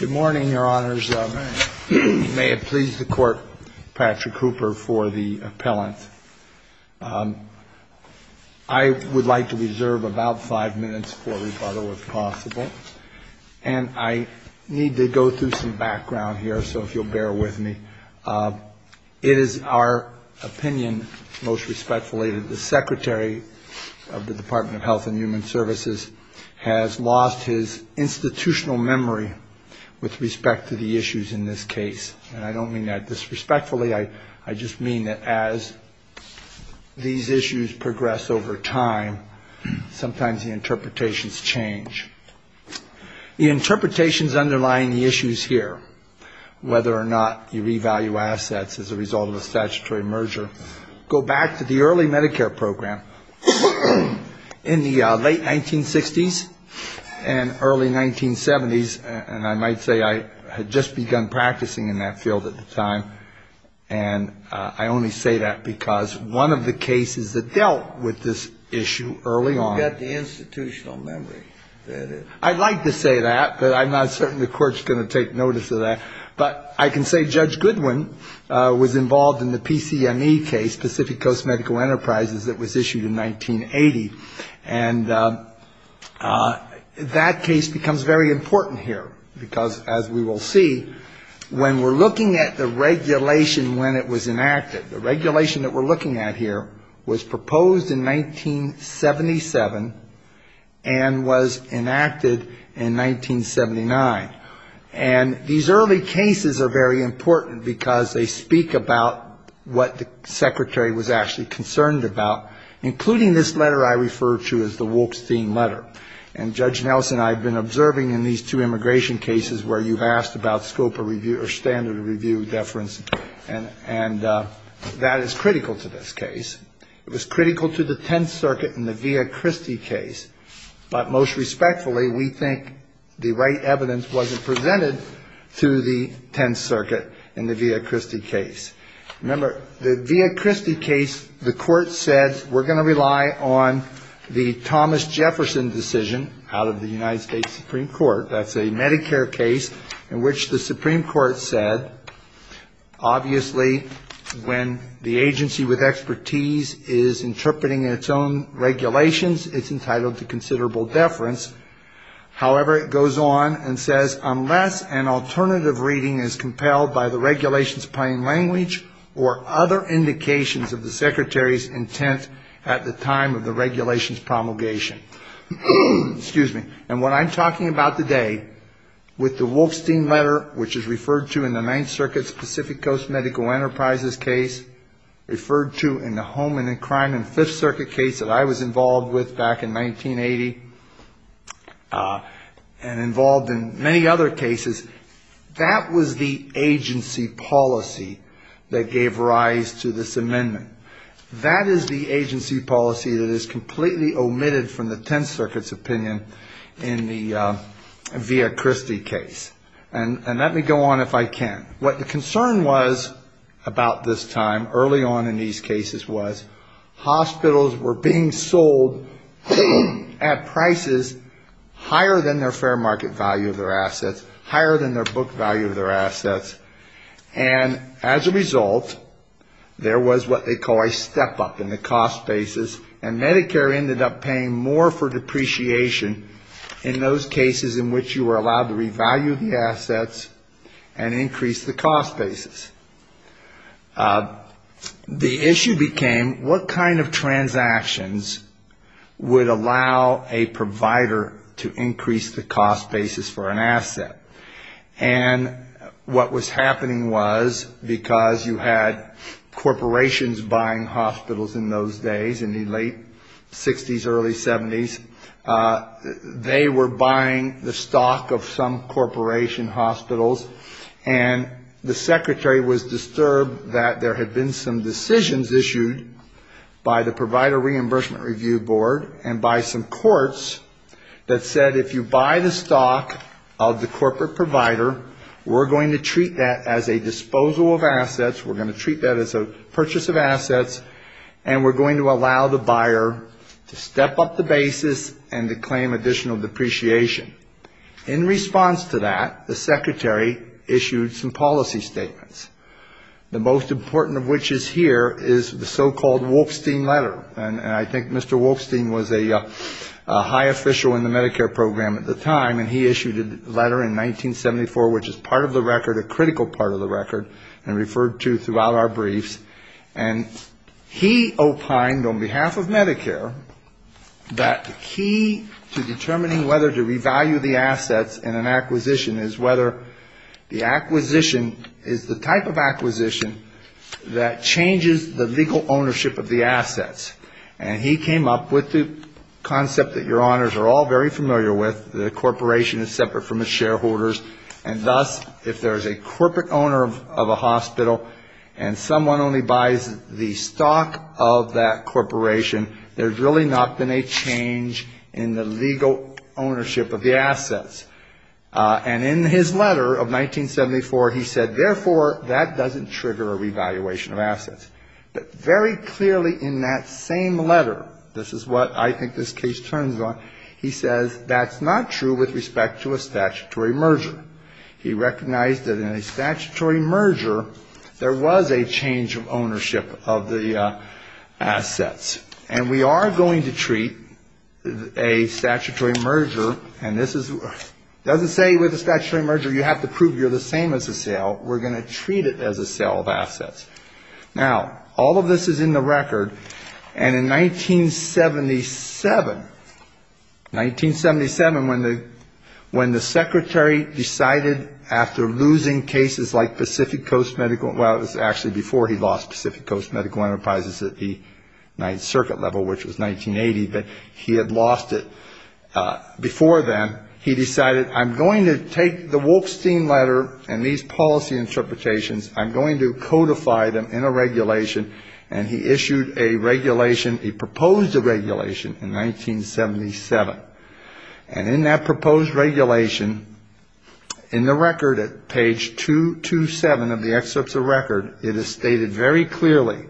Good morning, Your Honors. May it please the Court, Patrick Hooper for the appellant. I would like to reserve about five minutes for rebuttal if possible, and I need to go through some background here, so if you'll bear with me. It is our opinion, most respectfully, that the Secretary of the Department of Health and Human Services has lost his institutional memory with respect to the issues in this case. And I don't mean that disrespectfully. I just mean that as these issues progress over time, sometimes the interpretations change. The interpretations underlying the issues here, whether or not you revalue assets as a result of a statutory merger, go back to the early Medicare program in the late 1960s and early 1970s. And I might say I had just begun practicing in that field at the time. And I only say that because one of the cases that dealt with this issue early on ñ You don't get the institutional memory. I'd like to say that, but I'm not certain the Court's going to take notice of that. But I can say Judge Goodwin was involved in the PCME case, Pacific Coast Medical Enterprises, that was issued in 1980. And that case becomes very important here, because as we will see, when we're looking at the regulation when it was enacted, the regulation that we're looking at here was proposed in 1977 and was enacted in 1979. And these early cases are very important because they speak about what the Secretary was actually concerned about, including this letter I refer to as the Wolkstein letter. And Judge Nelson, I've been observing in these two immigration cases where you've asked about scope of review or standard of review deference, and that is critical to this case. It was critical to the Tenth Circuit in the Villa-Christie case. But most respectfully, we think the right evidence wasn't presented to the Tenth Circuit in the Villa-Christie case. Remember, the Villa-Christie case, the Court said, we're going to rely on the Thomas Jefferson decision out of the United States Supreme Court. That's a Medicare case in which the Supreme Court said, Obviously, when the agency with expertise is interpreting its own regulations, it's entitled to considerable deference. However, it goes on and says, unless an alternative reading is compelled by the regulation's plain language or other indications of the Secretary's intent at the time of the regulation's promulgation. Excuse me. And what I'm talking about today with the Wolkstein letter, which is referred to in the Ninth Circuit's Pacific Coast Medical Enterprises case, referred to in the Home and Crime and Fifth Circuit case that I was involved with back in 1980, and involved in many other cases, that was the agency policy that gave rise to this amendment. That is the agency policy that is completely omitted from the Tenth Circuit's opinion in the Villa-Christie case. And let me go on if I can. What the concern was about this time, early on in these cases, was hospitals were being sold at prices higher than their fair market value of their assets, higher than their book value of their assets. And as a result, there was what they call a step-up in the cost basis, and Medicare ended up paying more for depreciation in those cases in which you were allowed to revalue the assets and increase the cost basis. The issue became what kind of transactions would allow a provider to increase the cost basis for an asset. And what was happening was because you had corporations buying hospitals in those days, in the late 60s, early 70s, they were buying the stock of some corporation hospitals, and the secretary was disturbed that there had been some decisions issued by the Provider Reimbursement Review Board and by some courts that said if you buy the stock of the corporate provider, we're going to treat that as a disposal of assets, we're going to treat that as a purchase of assets, and we're going to allow the buyer to step up the basis and to claim additional depreciation. In response to that, the secretary issued some policy statements, the most important of which is here is the so-called Wolfstein letter. And I think Mr. Wolfstein was a high official in the Medicare program at the time, and he issued a letter in 1974 which is part of the record, a critical part of the record, and referred to throughout our briefs. And he opined on behalf of Medicare that the key to determining whether to revalue the assets in an acquisition is whether the acquisition is the type of acquisition that changes the legal ownership of the assets. And he came up with the concept that your honors are all very familiar with, that a corporation is separate from its shareholders, and thus if there's a corporate owner of a hospital and someone only buys the stock of that corporation, there's really not been a change in the legal ownership of the assets. And in his letter of 1974, he said, therefore, that doesn't trigger a revaluation of assets. But very clearly in that same letter, this is what I think this case turns on, he says that's not true with respect to a statutory merger. He recognized that in a statutory merger, there was a change of ownership of the assets. And we are going to treat a statutory merger, and this is, it doesn't say with a statutory merger, you have to prove you're the same as a sale. We're going to treat it as a sale of assets. Now, all of this is in the record. And in 1977, 1977, when the secretary decided after losing cases like Pacific Coast Medical, well, it was actually before he lost Pacific Coast Medical Enterprises at the Ninth Circuit level, which was 1980, but he had lost it before then. He decided, I'm going to take the Wolfstein letter and these policy interpretations, I'm going to codify them in a regulation, and he issued a regulation, a proposed regulation in 1977. And in that proposed regulation, in the record at page 227 of the excerpts of record, it is stated very clearly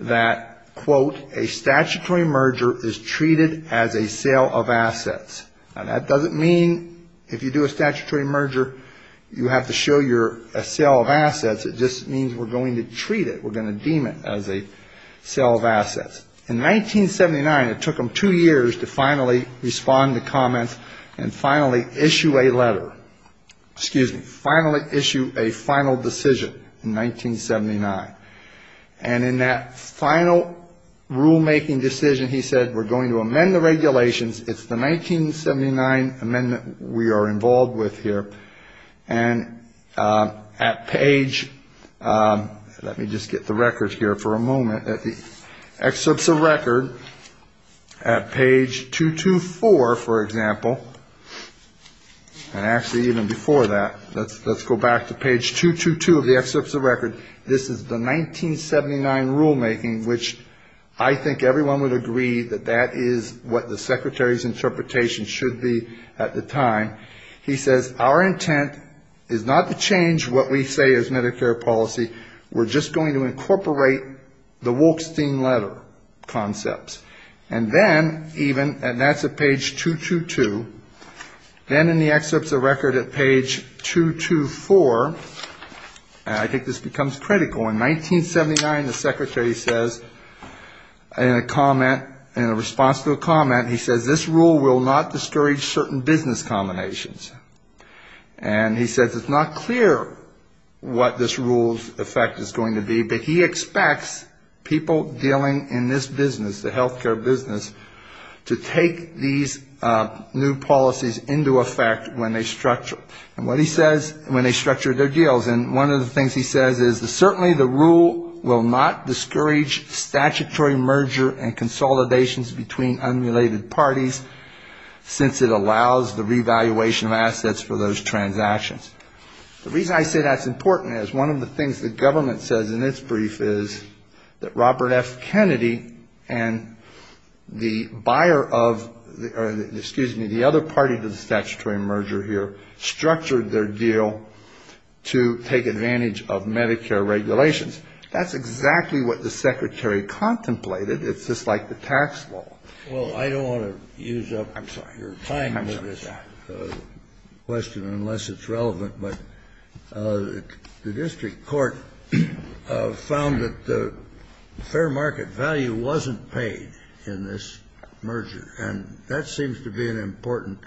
that, quote, a statutory merger is treated as a sale of assets. Now, that doesn't mean if you do a statutory merger, you have to show you're a sale of assets. It just means we're going to treat it. We're going to deem it as a sale of assets. In 1979, it took him two years to finally respond to comments and finally issue a letter. Excuse me, finally issue a final decision in 1979. And in that final rulemaking decision, he said, we're going to amend the regulations. It's the 1979 amendment we are involved with here. And at page, let me just get the records here for a moment. At the excerpts of record, at page 224, for example, and actually even before that, let's go back to page 222 of the excerpts of record. This is the 1979 rulemaking, which I think everyone would agree that that is what the Secretary's interpretation should be at the time. He says, our intent is not to change what we say is Medicare policy. We're just going to incorporate the Wolkstein letter concepts. And then even, and that's at page 222. Then in the excerpts of record at page 224, I think this becomes critical. In 1979, the Secretary says in a comment, in response to a comment, he says, this rule will not destroy certain business combinations. And he says it's not clear what this rule's effect is going to be, but he expects people dealing in this business, the health care business, to take these new policies into effect when they structure. And what he says, when they structure their deals. And one of the things he says is certainly the rule will not discourage statutory merger and consolidations between unrelated parties, since it allows the revaluation of assets for those transactions. The reason I say that's important is one of the things the government says in its brief is that Robert F. Kennedy and the buyer of, excuse me, the other party to the statutory merger here, structured their deal to take advantage of Medicare regulations. That's exactly what the Secretary contemplated. It's just like the tax law. Well, I don't want to use up your time with this question, unless it's relevant. But the district court found that the fair market value wasn't paid in this merger. And that seems to be an important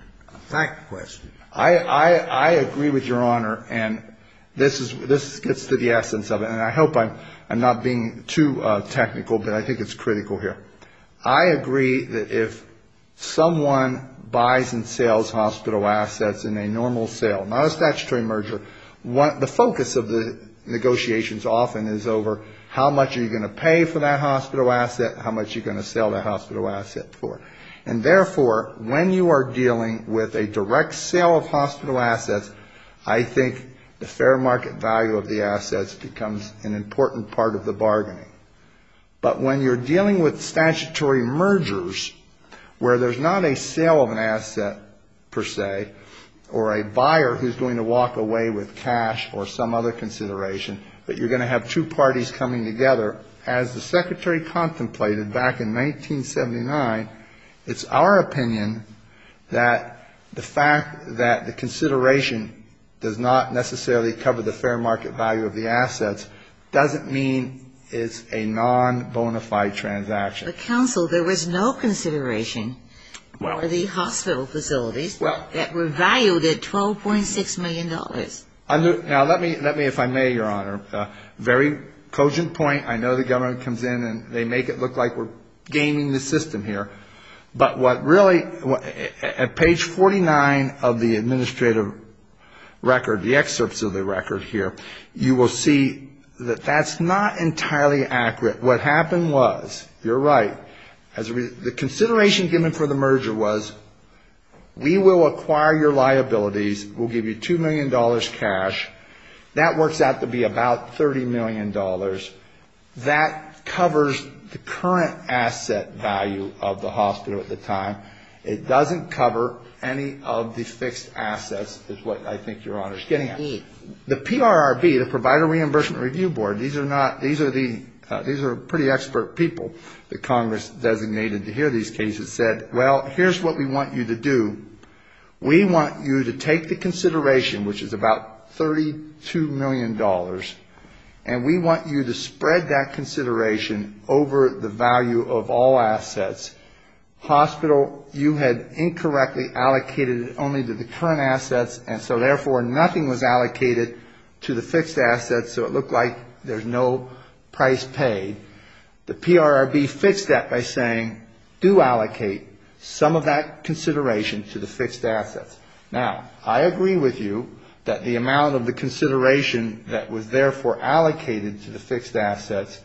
fact question. I agree with Your Honor. And this is the essence of it. And I hope I'm not being too technical, but I think it's critical here. I agree that if someone buys and sells hospital assets in a normal sale, not a statutory merger, the focus of the negotiations often is over how much are you going to pay for that hospital asset, how much are you going to sell that hospital asset for. And therefore, when you are dealing with a direct sale of hospital assets, I think the fair market value of the assets becomes an important part of the bargaining. But when you're dealing with statutory mergers where there's not a sale of an asset, per se, or a buyer who's going to walk away with cash or some other consideration, but you're going to have two parties coming together, as the Secretary contemplated back in 1979, it's our opinion that the fact that the consideration does not necessarily cover the fair market value of the assets doesn't mean it's a non-bonafide transaction. But, Counsel, there was no consideration for the hospital facilities that were valued at $12.6 million. Now, let me, if I may, Your Honor, very cogent point. I know the government comes in and they make it look like we're gaming the system here. But what really, at page 49 of the administrative record, the excerpts of the record here, you will see that that's not entirely accurate. What happened was, you're right, the consideration given for the merger was we will acquire your liabilities, we'll give you $2 million cash. That works out to be about $30 million. That covers the current asset value of the hospital at the time. It doesn't cover any of the fixed assets is what I think Your Honor is getting at. The PRRB, the Provider Reimbursement Review Board, these are pretty expert people that Congress designated to hear these cases, said, well, here's what we want you to do. We want you to take the consideration, which is about $32 million, and we want you to spread that consideration over the value of all assets. Hospital, you had incorrectly allocated it only to the current assets, and so, therefore, nothing was allocated to the fixed assets, so it looked like there's no price paid. The PRRB fixed that by saying, do allocate some of that consideration to the fixed assets. Now, I agree with you that the amount of the consideration that was, therefore, allocated to the fixed assets,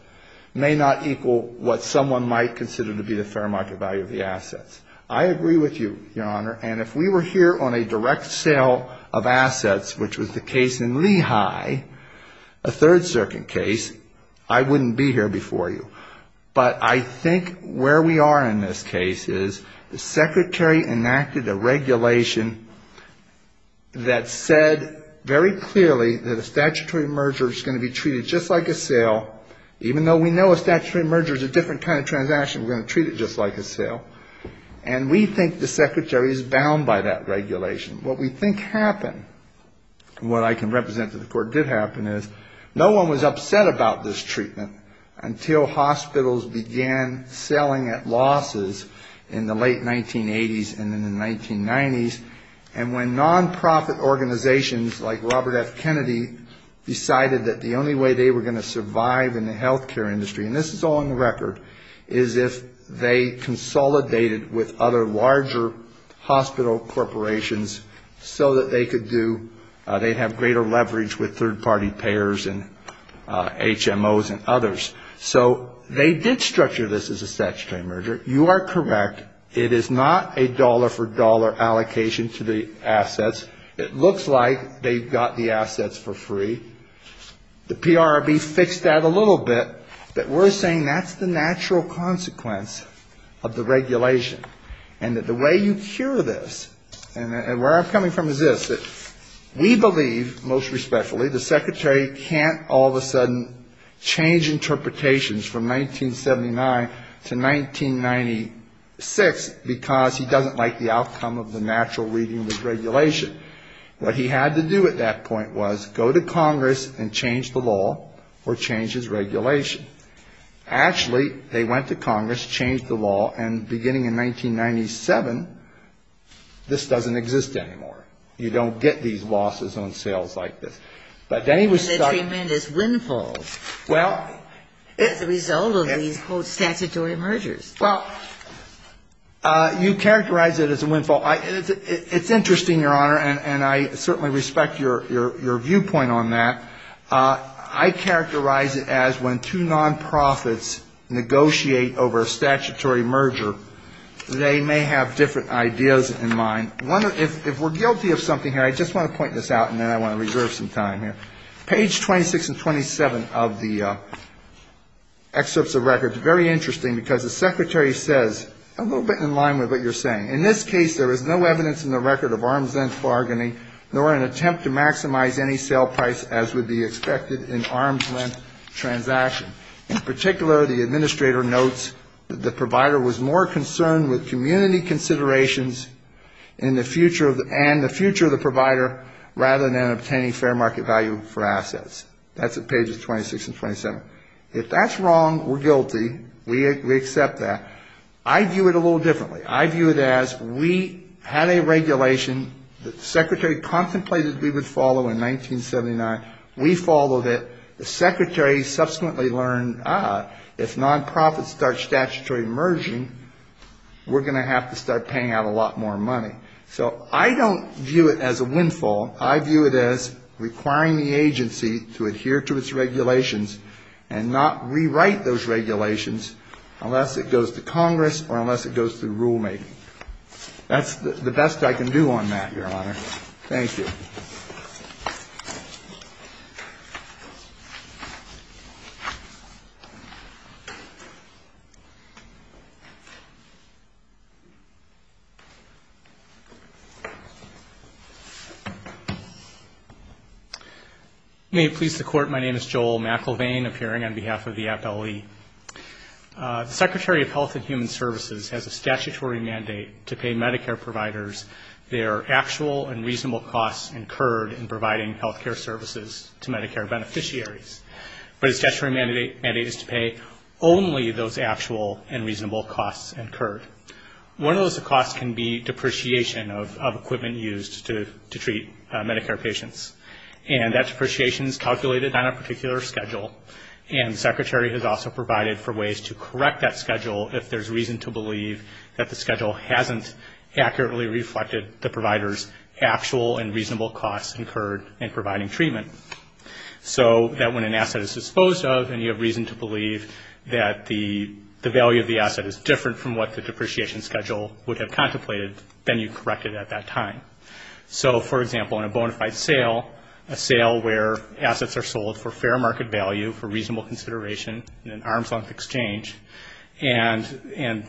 may not equal what someone might consider to be the fair market value of the assets. I agree with you, Your Honor, and if we were here on a direct sale of assets, which was the case in Lehigh, a Third Circuit case, I wouldn't be here before you. But I think where we are in this case is the Secretary enacted a regulation that said very clearly that a statutory merger is going to be treated just like a sale, even though we know a statutory merger is a different kind of transaction, we're going to treat it just like a sale. And we think the Secretary is bound by that regulation. What we think happened, and what I can represent to the Court did happen, is no one was upset about this treatment until hospitals began selling at losses in the late 1980s and in the 1990s, and when nonprofit organizations like Robert F. Kennedy decided that the only way they were going to survive in the health care industry, and this is all on the record, is if they consolidated with other larger hospital corporations so that they could do, they'd have greater leverage with third-party payers and HMOs and others. So they did structure this as a statutory merger. You are correct, it is not a dollar-for-dollar allocation to the assets. It looks like they've got the assets for free. The PRRB fixed that a little bit, but we're saying that's the natural consequence of the regulation, and that the way you cure this, and where I'm coming from is this, we believe, most respectfully, the Secretary can't all of a sudden change interpretations from 1979 to 1996, because he doesn't like the outcome of the natural reading of this regulation. What he had to do at that point was go to Congress and change the law or change his regulation. Actually, they went to Congress, changed the law, and beginning in 1997, this doesn't exist anymore. You don't get these losses on sales like this. But then he was stuck. And the tremendous windfall as a result of these, quote, statutory mergers. Well, you characterize it as a windfall. It's interesting, Your Honor, and I certainly respect your viewpoint on that. I characterize it as when two nonprofits negotiate over a statutory merger, they may have different ideas in mind. If we're guilty of something here, I just want to point this out, and then I want to reserve some time here. Page 26 and 27 of the excerpts of records, very interesting, because the Secretary says, a little bit in line with what you're saying, in this case, there is no evidence in the record of arms-length bargaining, nor an attempt to maximize any sale price as would be expected in arms-length transaction. In particular, the administrator notes that the provider was more concerned with community considerations and the future of the provider rather than obtaining fair market value for assets. That's at pages 26 and 27. If that's wrong, we're guilty. We accept that. I view it a little differently. I view it as we had a regulation that the Secretary contemplated we would follow in 1979. We followed it. The Secretary subsequently learned, ah, if nonprofits start statutory merging, we're going to have to start paying out a lot more money. So I don't view it as a windfall. I view it as requiring the agency to adhere to its regulations and not rewrite those regulations unless it goes to Congress or unless it goes through rulemaking. That's the best I can do on that, Your Honor. Thank you. Thank you. May it please the Court, my name is Joel McIlvain, appearing on behalf of the FLE. The Secretary of Health and Human Services has a statutory mandate to pay Medicare providers their actual and reasonable costs incurred in providing health care services to Medicare beneficiaries. But his statutory mandate is to pay only those actual and reasonable costs incurred. One of those costs can be depreciation of equipment used to treat Medicare patients. And that depreciation is calculated on a particular schedule, and the Secretary has also provided for ways to correct that schedule if there's reason to believe that the schedule hasn't accurately reflected the provider's actual and reasonable costs incurred in providing treatment. So that when an asset is disposed of and you have reason to believe that the value of the asset is different from what the depreciation schedule would have contemplated, then you correct it at that time. So, for example, in a bona fide sale, a sale where assets are sold for fair market value, for reasonable consideration in an arm's-length exchange, and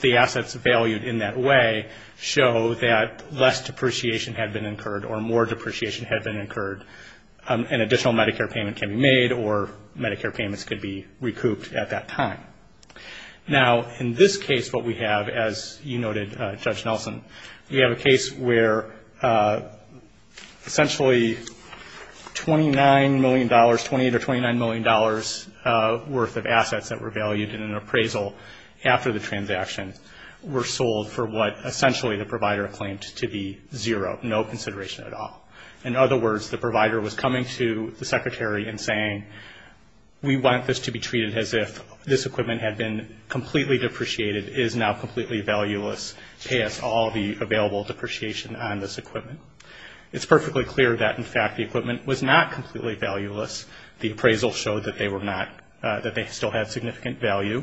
the assets valued in that way show that less depreciation had been incurred or more depreciation had been incurred, an additional Medicare payment can be made or Medicare payments could be recouped at that time. Now, in this case, what we have, as you noted, Judge Nelson, we have a case where essentially $29 million, $28 or $29 million worth of assets that were valued in an appraisal after the transaction were sold for what essentially the provider claimed to be zero, no consideration at all. In other words, the provider was coming to the Secretary and saying, we want this to be treated as if this equipment had been completely depreciated, is now completely valueless past all the available depreciation on this equipment. It's perfectly clear that, in fact, the equipment was not completely valueless. The appraisal showed that they were not, that they still had significant value.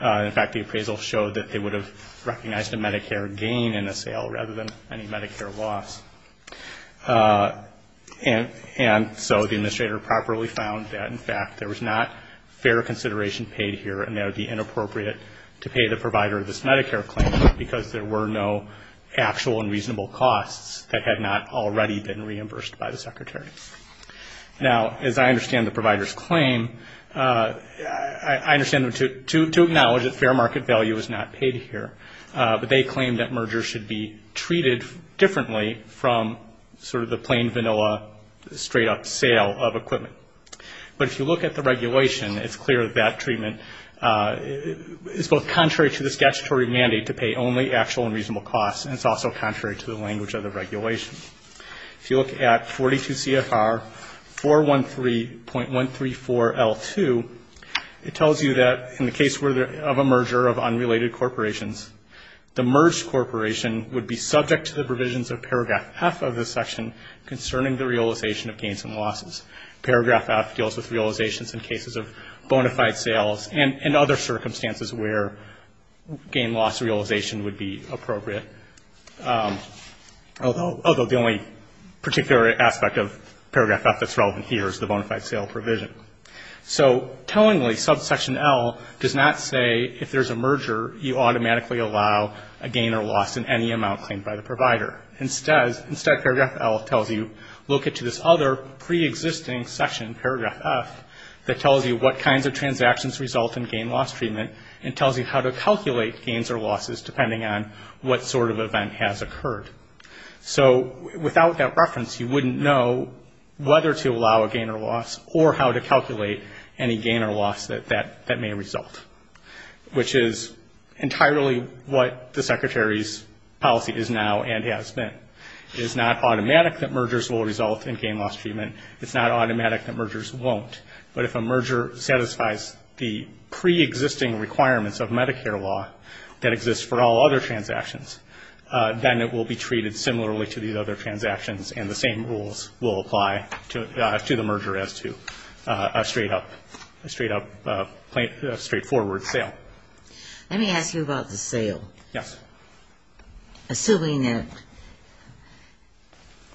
In fact, the appraisal showed that they would have recognized a Medicare gain in the sale rather than any Medicare loss. And so the administrator properly found that, in fact, there was not fair consideration paid here and that it would be inappropriate to pay the provider this Medicare claim because there were no actual and reasonable costs that had not already been reimbursed by the Secretary. Now, as I understand the provider's claim, I understand them to acknowledge that fair market value is not paid here, but they claim that mergers should be treated differently from sort of the plain vanilla straight-up sale of equipment. But if you look at the regulation, it's clear that that treatment is both contrary to the statutory mandate to pay only actual and reasonable costs, and it's also contrary to the language of the regulation. If you look at 42 CFR 413.134L2, it tells you that in the case of a merger of unrelated corporations, the merged corporation would be subject to the provisions of Paragraph F of this section concerning the realization of gains and losses. Paragraph F deals with realizations in cases of bona fide sales and other circumstances where gain-loss realization would be appropriate, although the only particular aspect of Paragraph F that's relevant here is the bona fide sale provision. So tellingly, subsection L does not say if there's a merger, you automatically allow a gain or loss in any amount claimed by the provider. Instead, Paragraph L tells you, look at this other preexisting section, Paragraph F, that tells you what kinds of transactions result in gain-loss treatment and tells you how to calculate gains or losses depending on what sort of event has occurred. So without that reference, you wouldn't know whether to allow a gain or loss or how to calculate any gain or loss that may result, which is entirely what the Secretary's policy is now and has been. It is not automatic that mergers will result in gain-loss treatment. It's not automatic that mergers won't. But if a merger satisfies the preexisting requirements of Medicare law that exists for all other transactions, then it will be treated similarly to these other transactions, and the same rules will apply to the merger as to a straight-up, straightforward sale. Let me ask you about the sale. Yes. Assuming that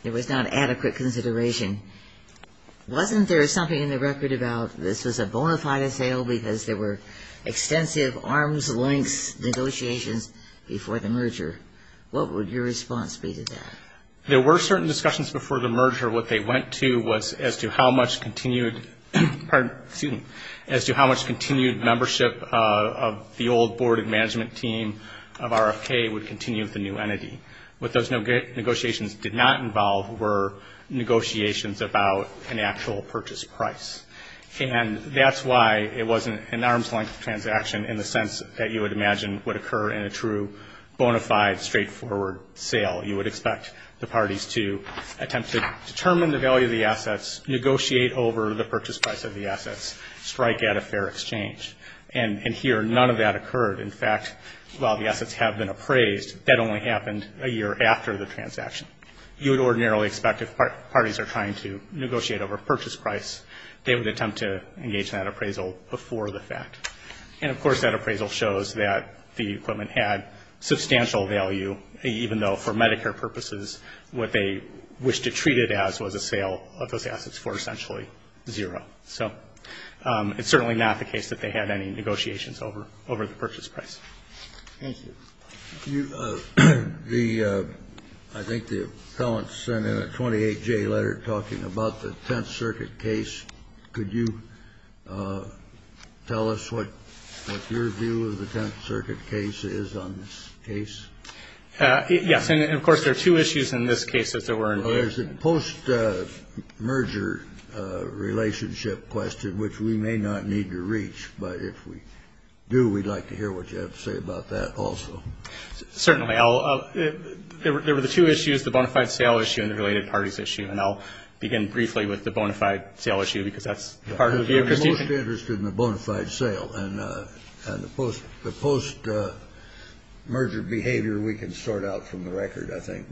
there was not adequate consideration, wasn't there something in the record about this was a bona fide sale because there were extensive arms-length negotiations before the merger? What would your response be to that? There were certain discussions before the merger. What they went to was as to how much continued membership of the old board and management team of RFK would continue with the new entity. What those negotiations did not involve were negotiations about an actual purchase price, and that's why it wasn't an arms-length transaction in the sense that you would imagine would occur in a true bona fide, straightforward sale. You would expect the parties to attempt to determine the value of the assets, negotiate over the purchase price of the assets, strike at a fair exchange. And here none of that occurred. In fact, while the assets have been appraised, that only happened a year after the transaction. You would ordinarily expect if parties are trying to negotiate over a purchase price, they would attempt to engage in that appraisal before the fact. And, of course, that appraisal shows that the equipment had substantial value, even though for Medicare purposes what they wished to treat it as was a sale of those assets for essentially zero. So it's certainly not the case that they had any negotiations over the purchase price. Thank you. I think the appellant sent in a 28-J letter talking about the Tenth Circuit case. Could you tell us what your view of the Tenth Circuit case is on this case? Yes. And, of course, there are two issues in this case as there were in the other. Well, there's a post-merger relationship question, which we may not need to reach. But if we do, we'd like to hear what you have to say about that also. Certainly. There were the two issues, the bona fide sale issue and the related parties issue. And I'll begin briefly with the bona fide sale issue because that's part of the vehicles. I'm most interested in the bona fide sale. And the post-merger behavior we can sort out from the record, I think.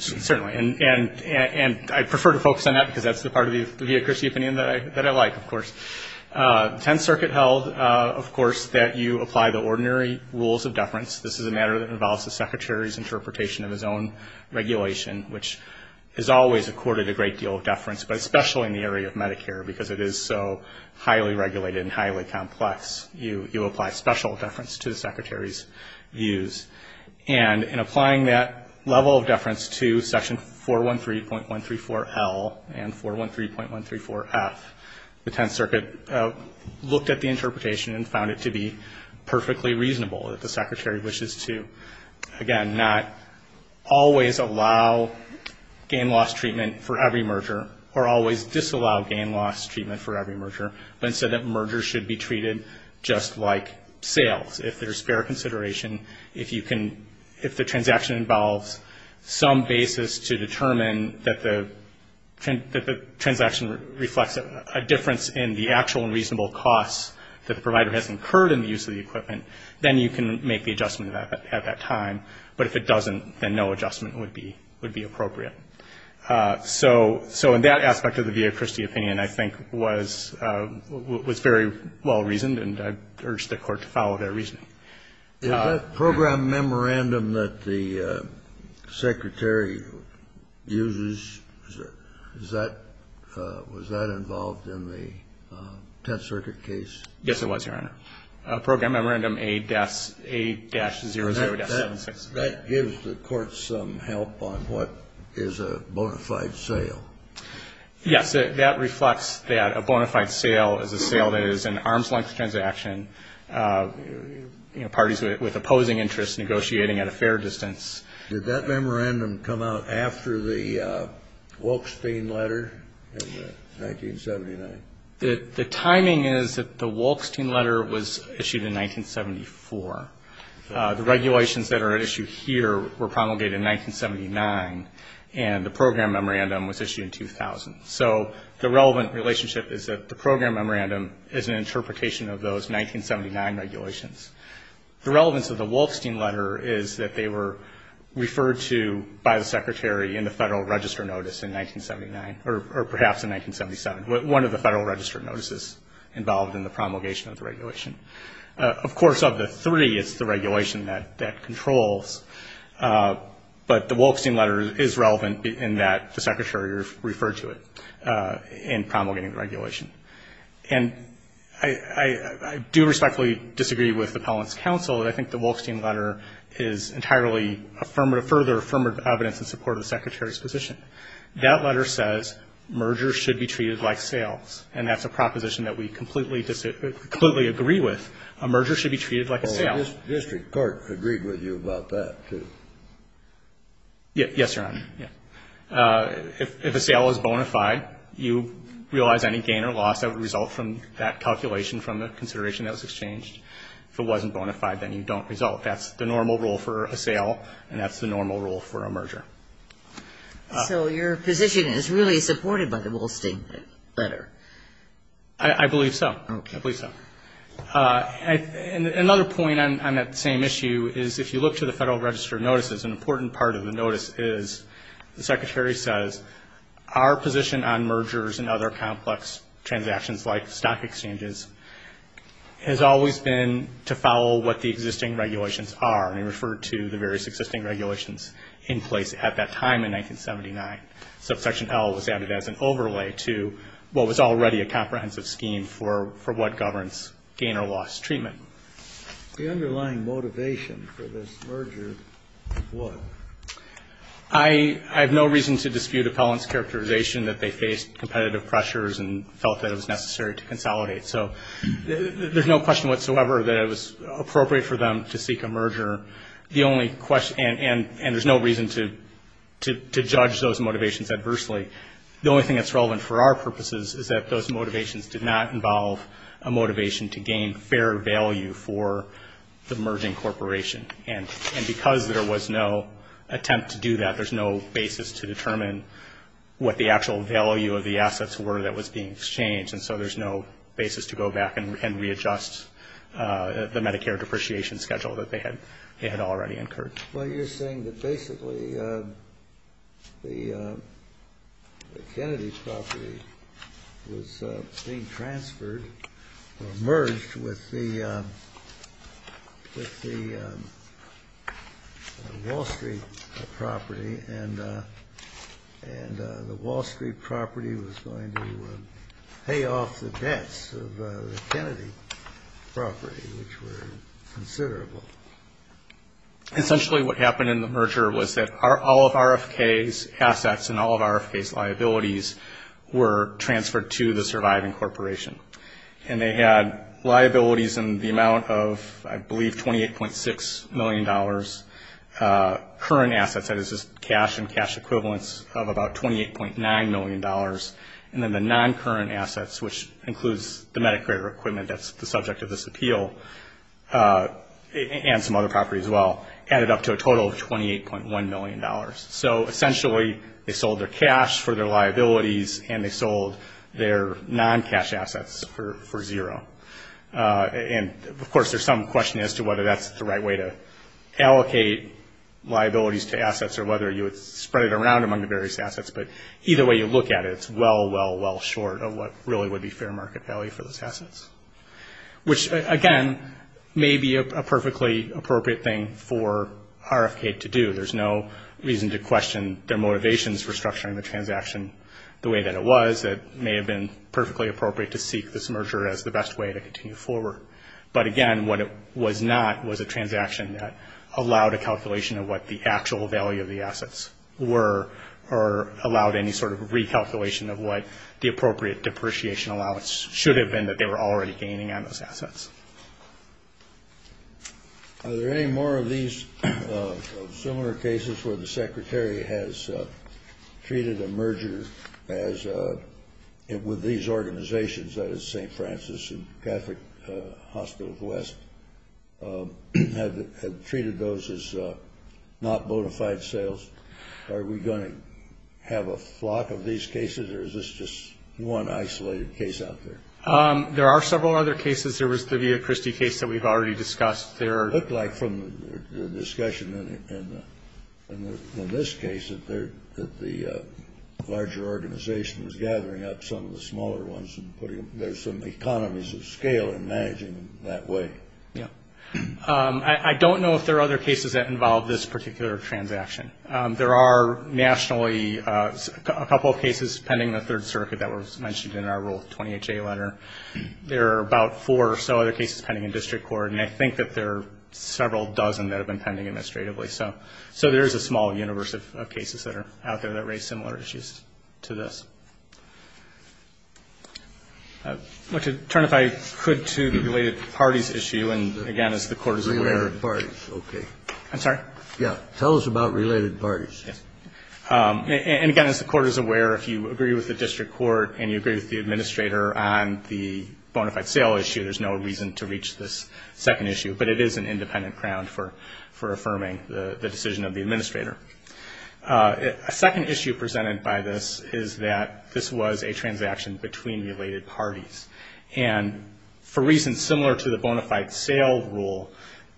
Certainly. And I prefer to focus on that because that's the part of the vehicles opinion that I like, of course. The Tenth Circuit held, of course, that you apply the ordinary rules of deference. This is a matter that involves the Secretary's interpretation of his own regulation, which has always accorded a great deal of deference, but especially in the area of Medicare because it is so highly regulated and highly complex. You apply special deference to the Secretary's views. And in applying that level of deference to Section 413.134L and 413.134F, the Tenth Circuit looked at the interpretation and found it to be perfectly reasonable that the Secretary wishes to, again, not always allow gain-loss treatment for every merger or always disallow gain-loss treatment for every merger, but instead that mergers should be treated just like sales. If there's fair consideration, if the transaction involves some basis to determine that the transaction reflects a difference in the actual and reasonable costs that the provider has incurred in the use of the equipment, then you can make the adjustment at that time. But if it doesn't, then no adjustment would be appropriate. So in that aspect of the Via Christi opinion, I think, was very well-reasoned, and I urge the Court to follow that reasoning. Is that program memorandum that the Secretary uses, was that involved in the Tenth Circuit case? Yes, it was, Your Honor. Program memorandum A-00-76. That gives the Court some help on what is a bona fide sale. Yes, that reflects that a bona fide sale is a sale that is an arm's-length transaction. You know, parties with opposing interests negotiating at a fair distance. Did that memorandum come out after the Wolkstein letter in 1979? The timing is that the Wolkstein letter was issued in 1974. The regulations that are at issue here were promulgated in 1979, and the program memorandum was issued in 2000. So the relevant relationship is that the program memorandum is an interpretation of those 1979 regulations. The relevance of the Wolkstein letter is that they were referred to by the Secretary in the Federal Register Notice in 1979, or perhaps in 1977, one of the Federal Register Notices involved in the promulgation of the regulation. Of course, of the three, it's the regulation that controls, but the Wolkstein letter is relevant in that the Secretary referred to it in promulgating the regulation. And I do respectfully disagree with the Appellant's counsel. I think the Wolkstein letter is entirely affirmative, further affirmative evidence in support of the Secretary's position. That letter says mergers should be treated like sales, and that's a proposition that we completely disagree with. A merger should be treated like a sale. The district court agreed with you about that, too. Yes, Your Honor. If a sale is bona fide, you realize any gain or loss that would result from that calculation from the consideration that was exchanged. If it wasn't bona fide, then you don't result. That's the normal rule for a sale, and that's the normal rule for a merger. So your position is really supported by the Wolkstein letter? I believe so. Okay. I believe so. Another point on that same issue is if you look to the Federal Register of Notices, an important part of the notice is the Secretary says, our position on mergers and other complex transactions like stock exchanges has always been to follow what the existing regulations are, and he referred to the various existing regulations in place at that time in 1979. Subsection L was added as an overlay to what was already a comprehensive scheme for what governs gain or loss treatment. The underlying motivation for this merger was? I have no reason to dispute appellants' characterization that they faced competitive pressures and felt that it was necessary to consolidate. So there's no question whatsoever that it was appropriate for them to seek a merger, and there's no reason to judge those motivations adversely. The only thing that's relevant for our purposes is that those motivations did not involve a motivation to gain fair value for the merging corporation, and because there was no attempt to do that, there's no basis to determine what the actual value of the assets were that was being exchanged, and so there's no basis to go back and readjust the Medicare depreciation schedule that they had already incurred. Well, you're saying that basically the Kennedy property was being transferred or merged with the Wall Street property, and the Wall Street property was going to pay off the debts of the Kennedy property, which were considerable. Essentially what happened in the merger was that all of RFK's assets and all of RFK's liabilities were transferred to the surviving corporation, and they had liabilities in the amount of, I believe, $28.6 million. Current assets, that is just cash and cash equivalents of about $28.9 million, and then the non-current assets, which includes the Medicare equipment that's the subject of this appeal, and some other properties as well, added up to a total of $28.1 million. So essentially they sold their cash for their liabilities, and they sold their non-cash assets for zero, and of course there's some question as to whether that's the right way to allocate liabilities to assets or whether you would spread it around among the various assets, but either way you look at it, it's well, well, well short of what really would be fair market value for those assets, which again may be a perfectly appropriate thing for RFK to do. There's no reason to question their motivations for structuring the transaction the way that it was. It may have been perfectly appropriate to seek this merger as the best way to continue forward, but again what it was not was a transaction that allowed a calculation of what the actual value of the assets were or allowed any sort of recalculation of what the appropriate depreciation allowance should have been, that they were already gaining on those assets. Are there any more of these similar cases where the Secretary has treated a merger with these organizations, that is St. Francis and Catholic Hospitals West, had treated those as not bona fide sales? Are we going to have a flock of these cases or is this just one isolated case out there? There are several other cases. There was the Via Christi case that we've already discussed. It looked like from the discussion in this case that the larger organization was gathering up some of the smaller ones and there's some economies of scale in managing them that way. I don't know if there are other cases that involve this particular transaction. There are nationally a couple of cases pending in the Third Circuit that were mentioned in our Rule 28J letter. There are about four or so other cases pending in district court and I think that there are several dozen that have been pending administratively. So there is a small universe of cases that are out there that raise similar issues to this. I'd like to turn, if I could, to the related parties issue and, again, as the Court is aware. Related parties, okay. I'm sorry? Yeah, tell us about related parties. And, again, as the Court is aware, if you agree with the district court and you agree with the administrator on the bona fide sale issue, there's no reason to reach this second issue, but it is an independent ground for affirming the decision of the administrator. A second issue presented by this is that this was a transaction between related parties. And for reasons similar to the bona fide sale rule,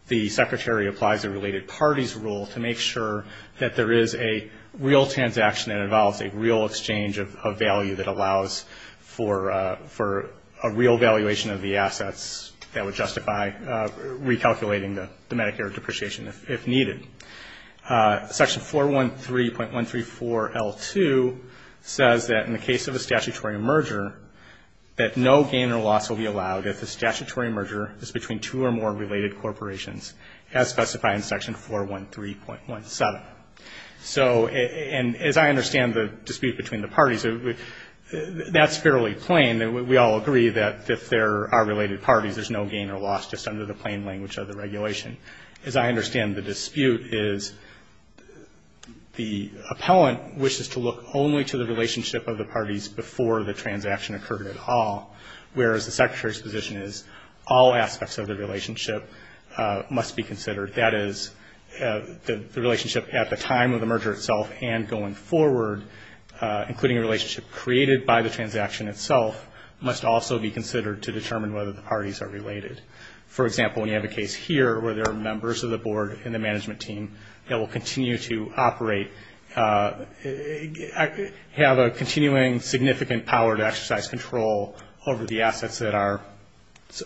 the secretary applies a related parties rule to make sure that there is a real transaction that involves a real exchange of value that allows for a real valuation of the assets that would justify recalculating the Medicare depreciation if needed. Section 413.134L2 says that in the case of a statutory merger, that no gain or loss will be allowed if the statutory merger is between two or more related corporations, as specified in section 413.17. So, and as I understand the dispute between the parties, that's fairly plain. We all agree that if there are related parties, there's no gain or loss just under the plain language of the regulation. As I understand the dispute is the appellant wishes to look only to the relationship of the parties before the transaction occurred at all, whereas the secretary's position is all aspects of the relationship must be considered. That is, the relationship at the time of the merger itself and going forward, including a relationship created by the transaction itself, must also be considered to determine whether the parties are related. For example, when you have a case here where there are members of the board and the management team that will continue to operate, have a continuing significant power to exercise control over the assets that are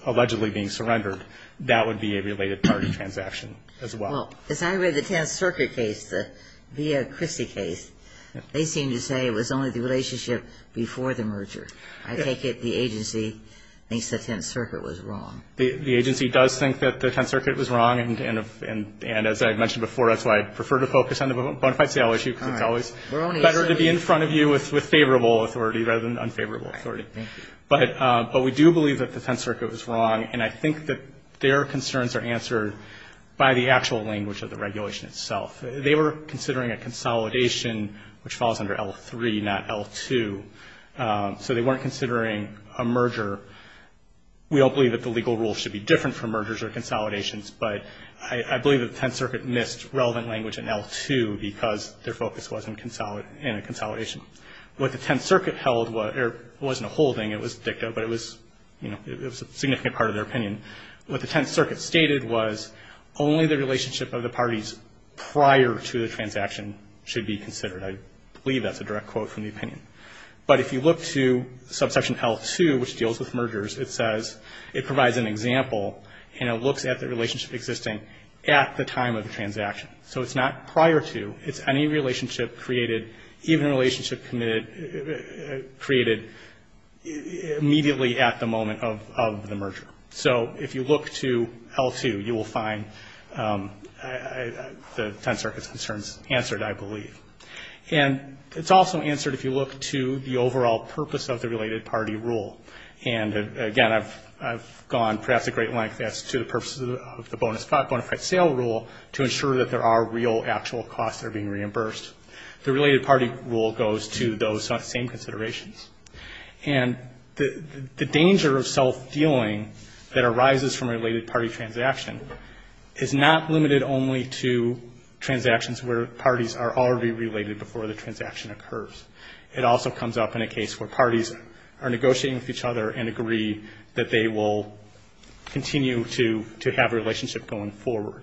allegedly being surrendered, that would be a related party transaction as well. Well, as I read the Tenth Circuit case, the Via Christi case, they seem to say it was only the relationship before the merger. I take it the agency thinks the Tenth Circuit was wrong. The agency does think that the Tenth Circuit was wrong, and as I mentioned before, that's why I prefer to focus on the bona fide sale issue because it's always better to be in front of you with favorable authority rather than unfavorable authority. But we do believe that the Tenth Circuit was wrong, and I think that their concerns are answered by the actual language of the regulation itself. They were considering a consolidation which falls under L3, not L2, so they weren't considering a merger. We don't believe that the legal rules should be different from mergers or consolidations, but I believe that the Tenth Circuit missed relevant language in L2 because their focus wasn't in a consolidation. What the Tenth Circuit held wasn't a holding. It was a dicta, but it was a significant part of their opinion. What the Tenth Circuit stated was only the relationship of the parties prior to the transaction should be considered. I believe that's a direct quote from the opinion. But if you look to subsection L2, which deals with mergers, it says it provides an example, and it looks at the relationship existing at the time of the transaction. So it's not prior to, it's any relationship created, even a relationship created immediately at the moment of the merger. So if you look to L2, you will find the Tenth Circuit's concerns answered, I believe. And it's also answered if you look to the overall purpose of the related party rule. And, again, I've gone perhaps a great length as to the purpose of the bona fide sale rule to ensure that there are real actual costs that are being reimbursed. The related party rule goes to those same considerations. And the danger of self-fueling that arises from a related party transaction is not limited only to transactions where parties are already related before the transaction occurs. It also comes up in a case where parties are negotiating with each other and agree that they will continue to have a relationship going forward.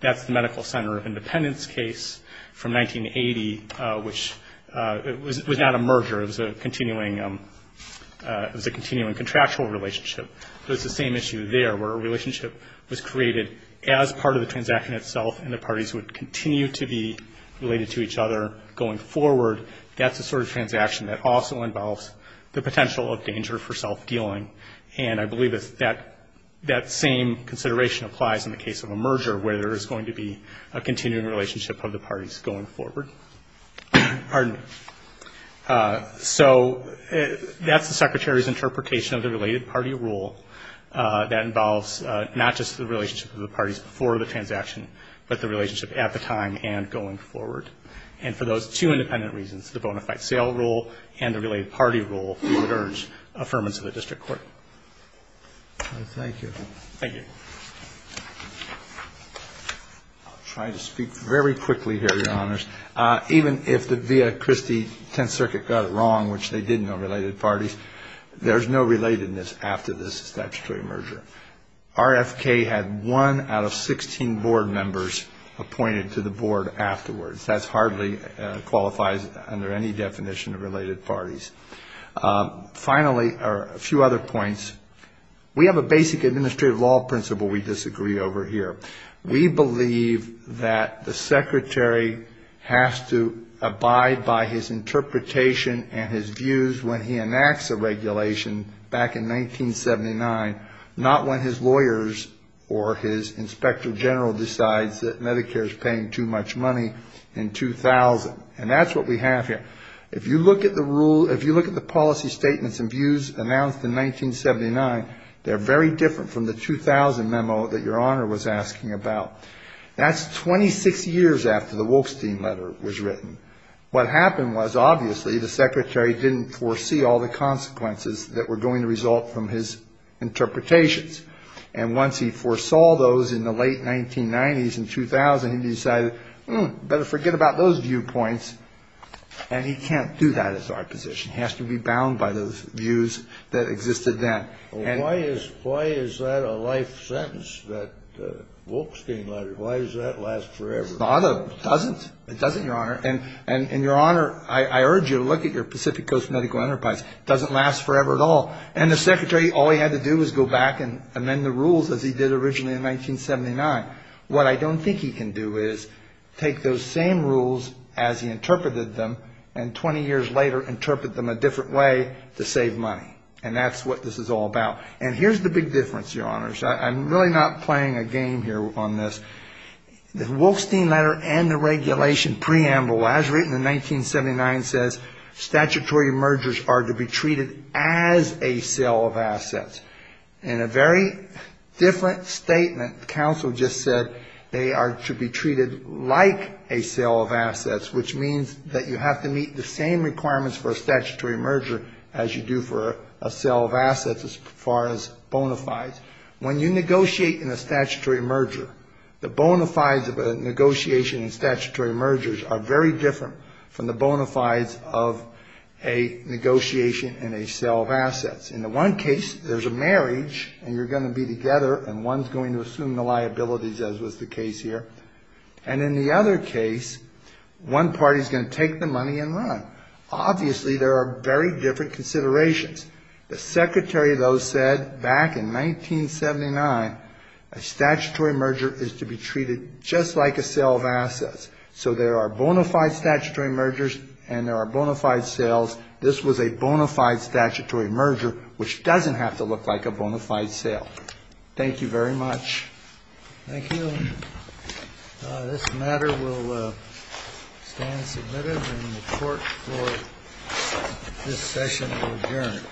That's the Medical Center of Independence case from 1980, which was not a merger. It was a continuing contractual relationship. So it's the same issue there where a relationship was created as part of the transaction itself and the parties would continue to be related to each other going forward. That's the sort of transaction that also involves the potential of danger for self-fueling. And I believe that that same consideration applies in the case of a merger where there is going to be a continuing relationship of the parties going forward. Pardon me. So that's the Secretary's interpretation of the related party rule that involves not just the relationship of the parties before the transaction but the relationship at the time and going forward. And for those two independent reasons, the bona fide sale rule and the related party rule, we would urge affirmance of the district court. Thank you. Thank you. I'll try to speak very quickly here, Your Honors. Even if the Via Christi Tenth Circuit got it wrong, which they did in the related parties, there's no relatedness after this statutory merger. RFK had one out of 16 board members appointed to the board afterwards. That hardly qualifies under any definition of related parties. Finally, a few other points. We have a basic administrative law principle we disagree over here. We believe that the Secretary has to abide by his interpretation and his views when he enacts a regulation back in 1979, not when his lawyers or his inspector general decides that Medicare is paying too much money in 2000. And that's what we have here. If you look at the policy statements and views announced in 1979, they're very different from the 2000 memo that Your Honor was asking about. That's 26 years after the Wolfstein letter was written. What happened was obviously the Secretary didn't foresee all the consequences that were going to result from his interpretations. And once he foresaw those in the late 1990s and 2000, he decided, hmm, better forget about those viewpoints. And he can't do that as our position. He has to be bound by those views that existed then. And why is that a life sentence, that Wolfstein letter? Why does that last forever? It doesn't. It doesn't, Your Honor. And, Your Honor, I urge you to look at your Pacific Coast medical enterprise. It doesn't last forever at all. And the Secretary, all he had to do was go back and amend the rules as he did originally in 1979. What I don't think he can do is take those same rules as he interpreted them and 20 years later interpret them a different way to save money. And that's what this is all about. And here's the big difference, Your Honors. I'm really not playing a game here on this. The Wolfstein letter and the regulation preamble, as written in 1979, says, statutory mergers are to be treated as a sale of assets. In a very different statement, counsel just said they are to be treated like a sale of assets, which means that you have to meet the same requirements for a statutory merger as you do for a sale of assets as far as bona fides. When you negotiate in a statutory merger, the bona fides of a negotiation in statutory mergers are very different from the bona fides of a negotiation in a sale of assets. In the one case, there's a marriage and you're going to be together and one's going to assume the liabilities, as was the case here. And in the other case, one party's going to take the money and run. Obviously, there are very different considerations. The secretary, though, said back in 1979, a statutory merger is to be treated just like a sale of assets. So there are bona fide statutory mergers and there are bona fide sales. This was a bona fide statutory merger, which doesn't have to look like a bona fide sale. Thank you very much. Thank you. This matter will stand submitted and the court for this session will adjourn.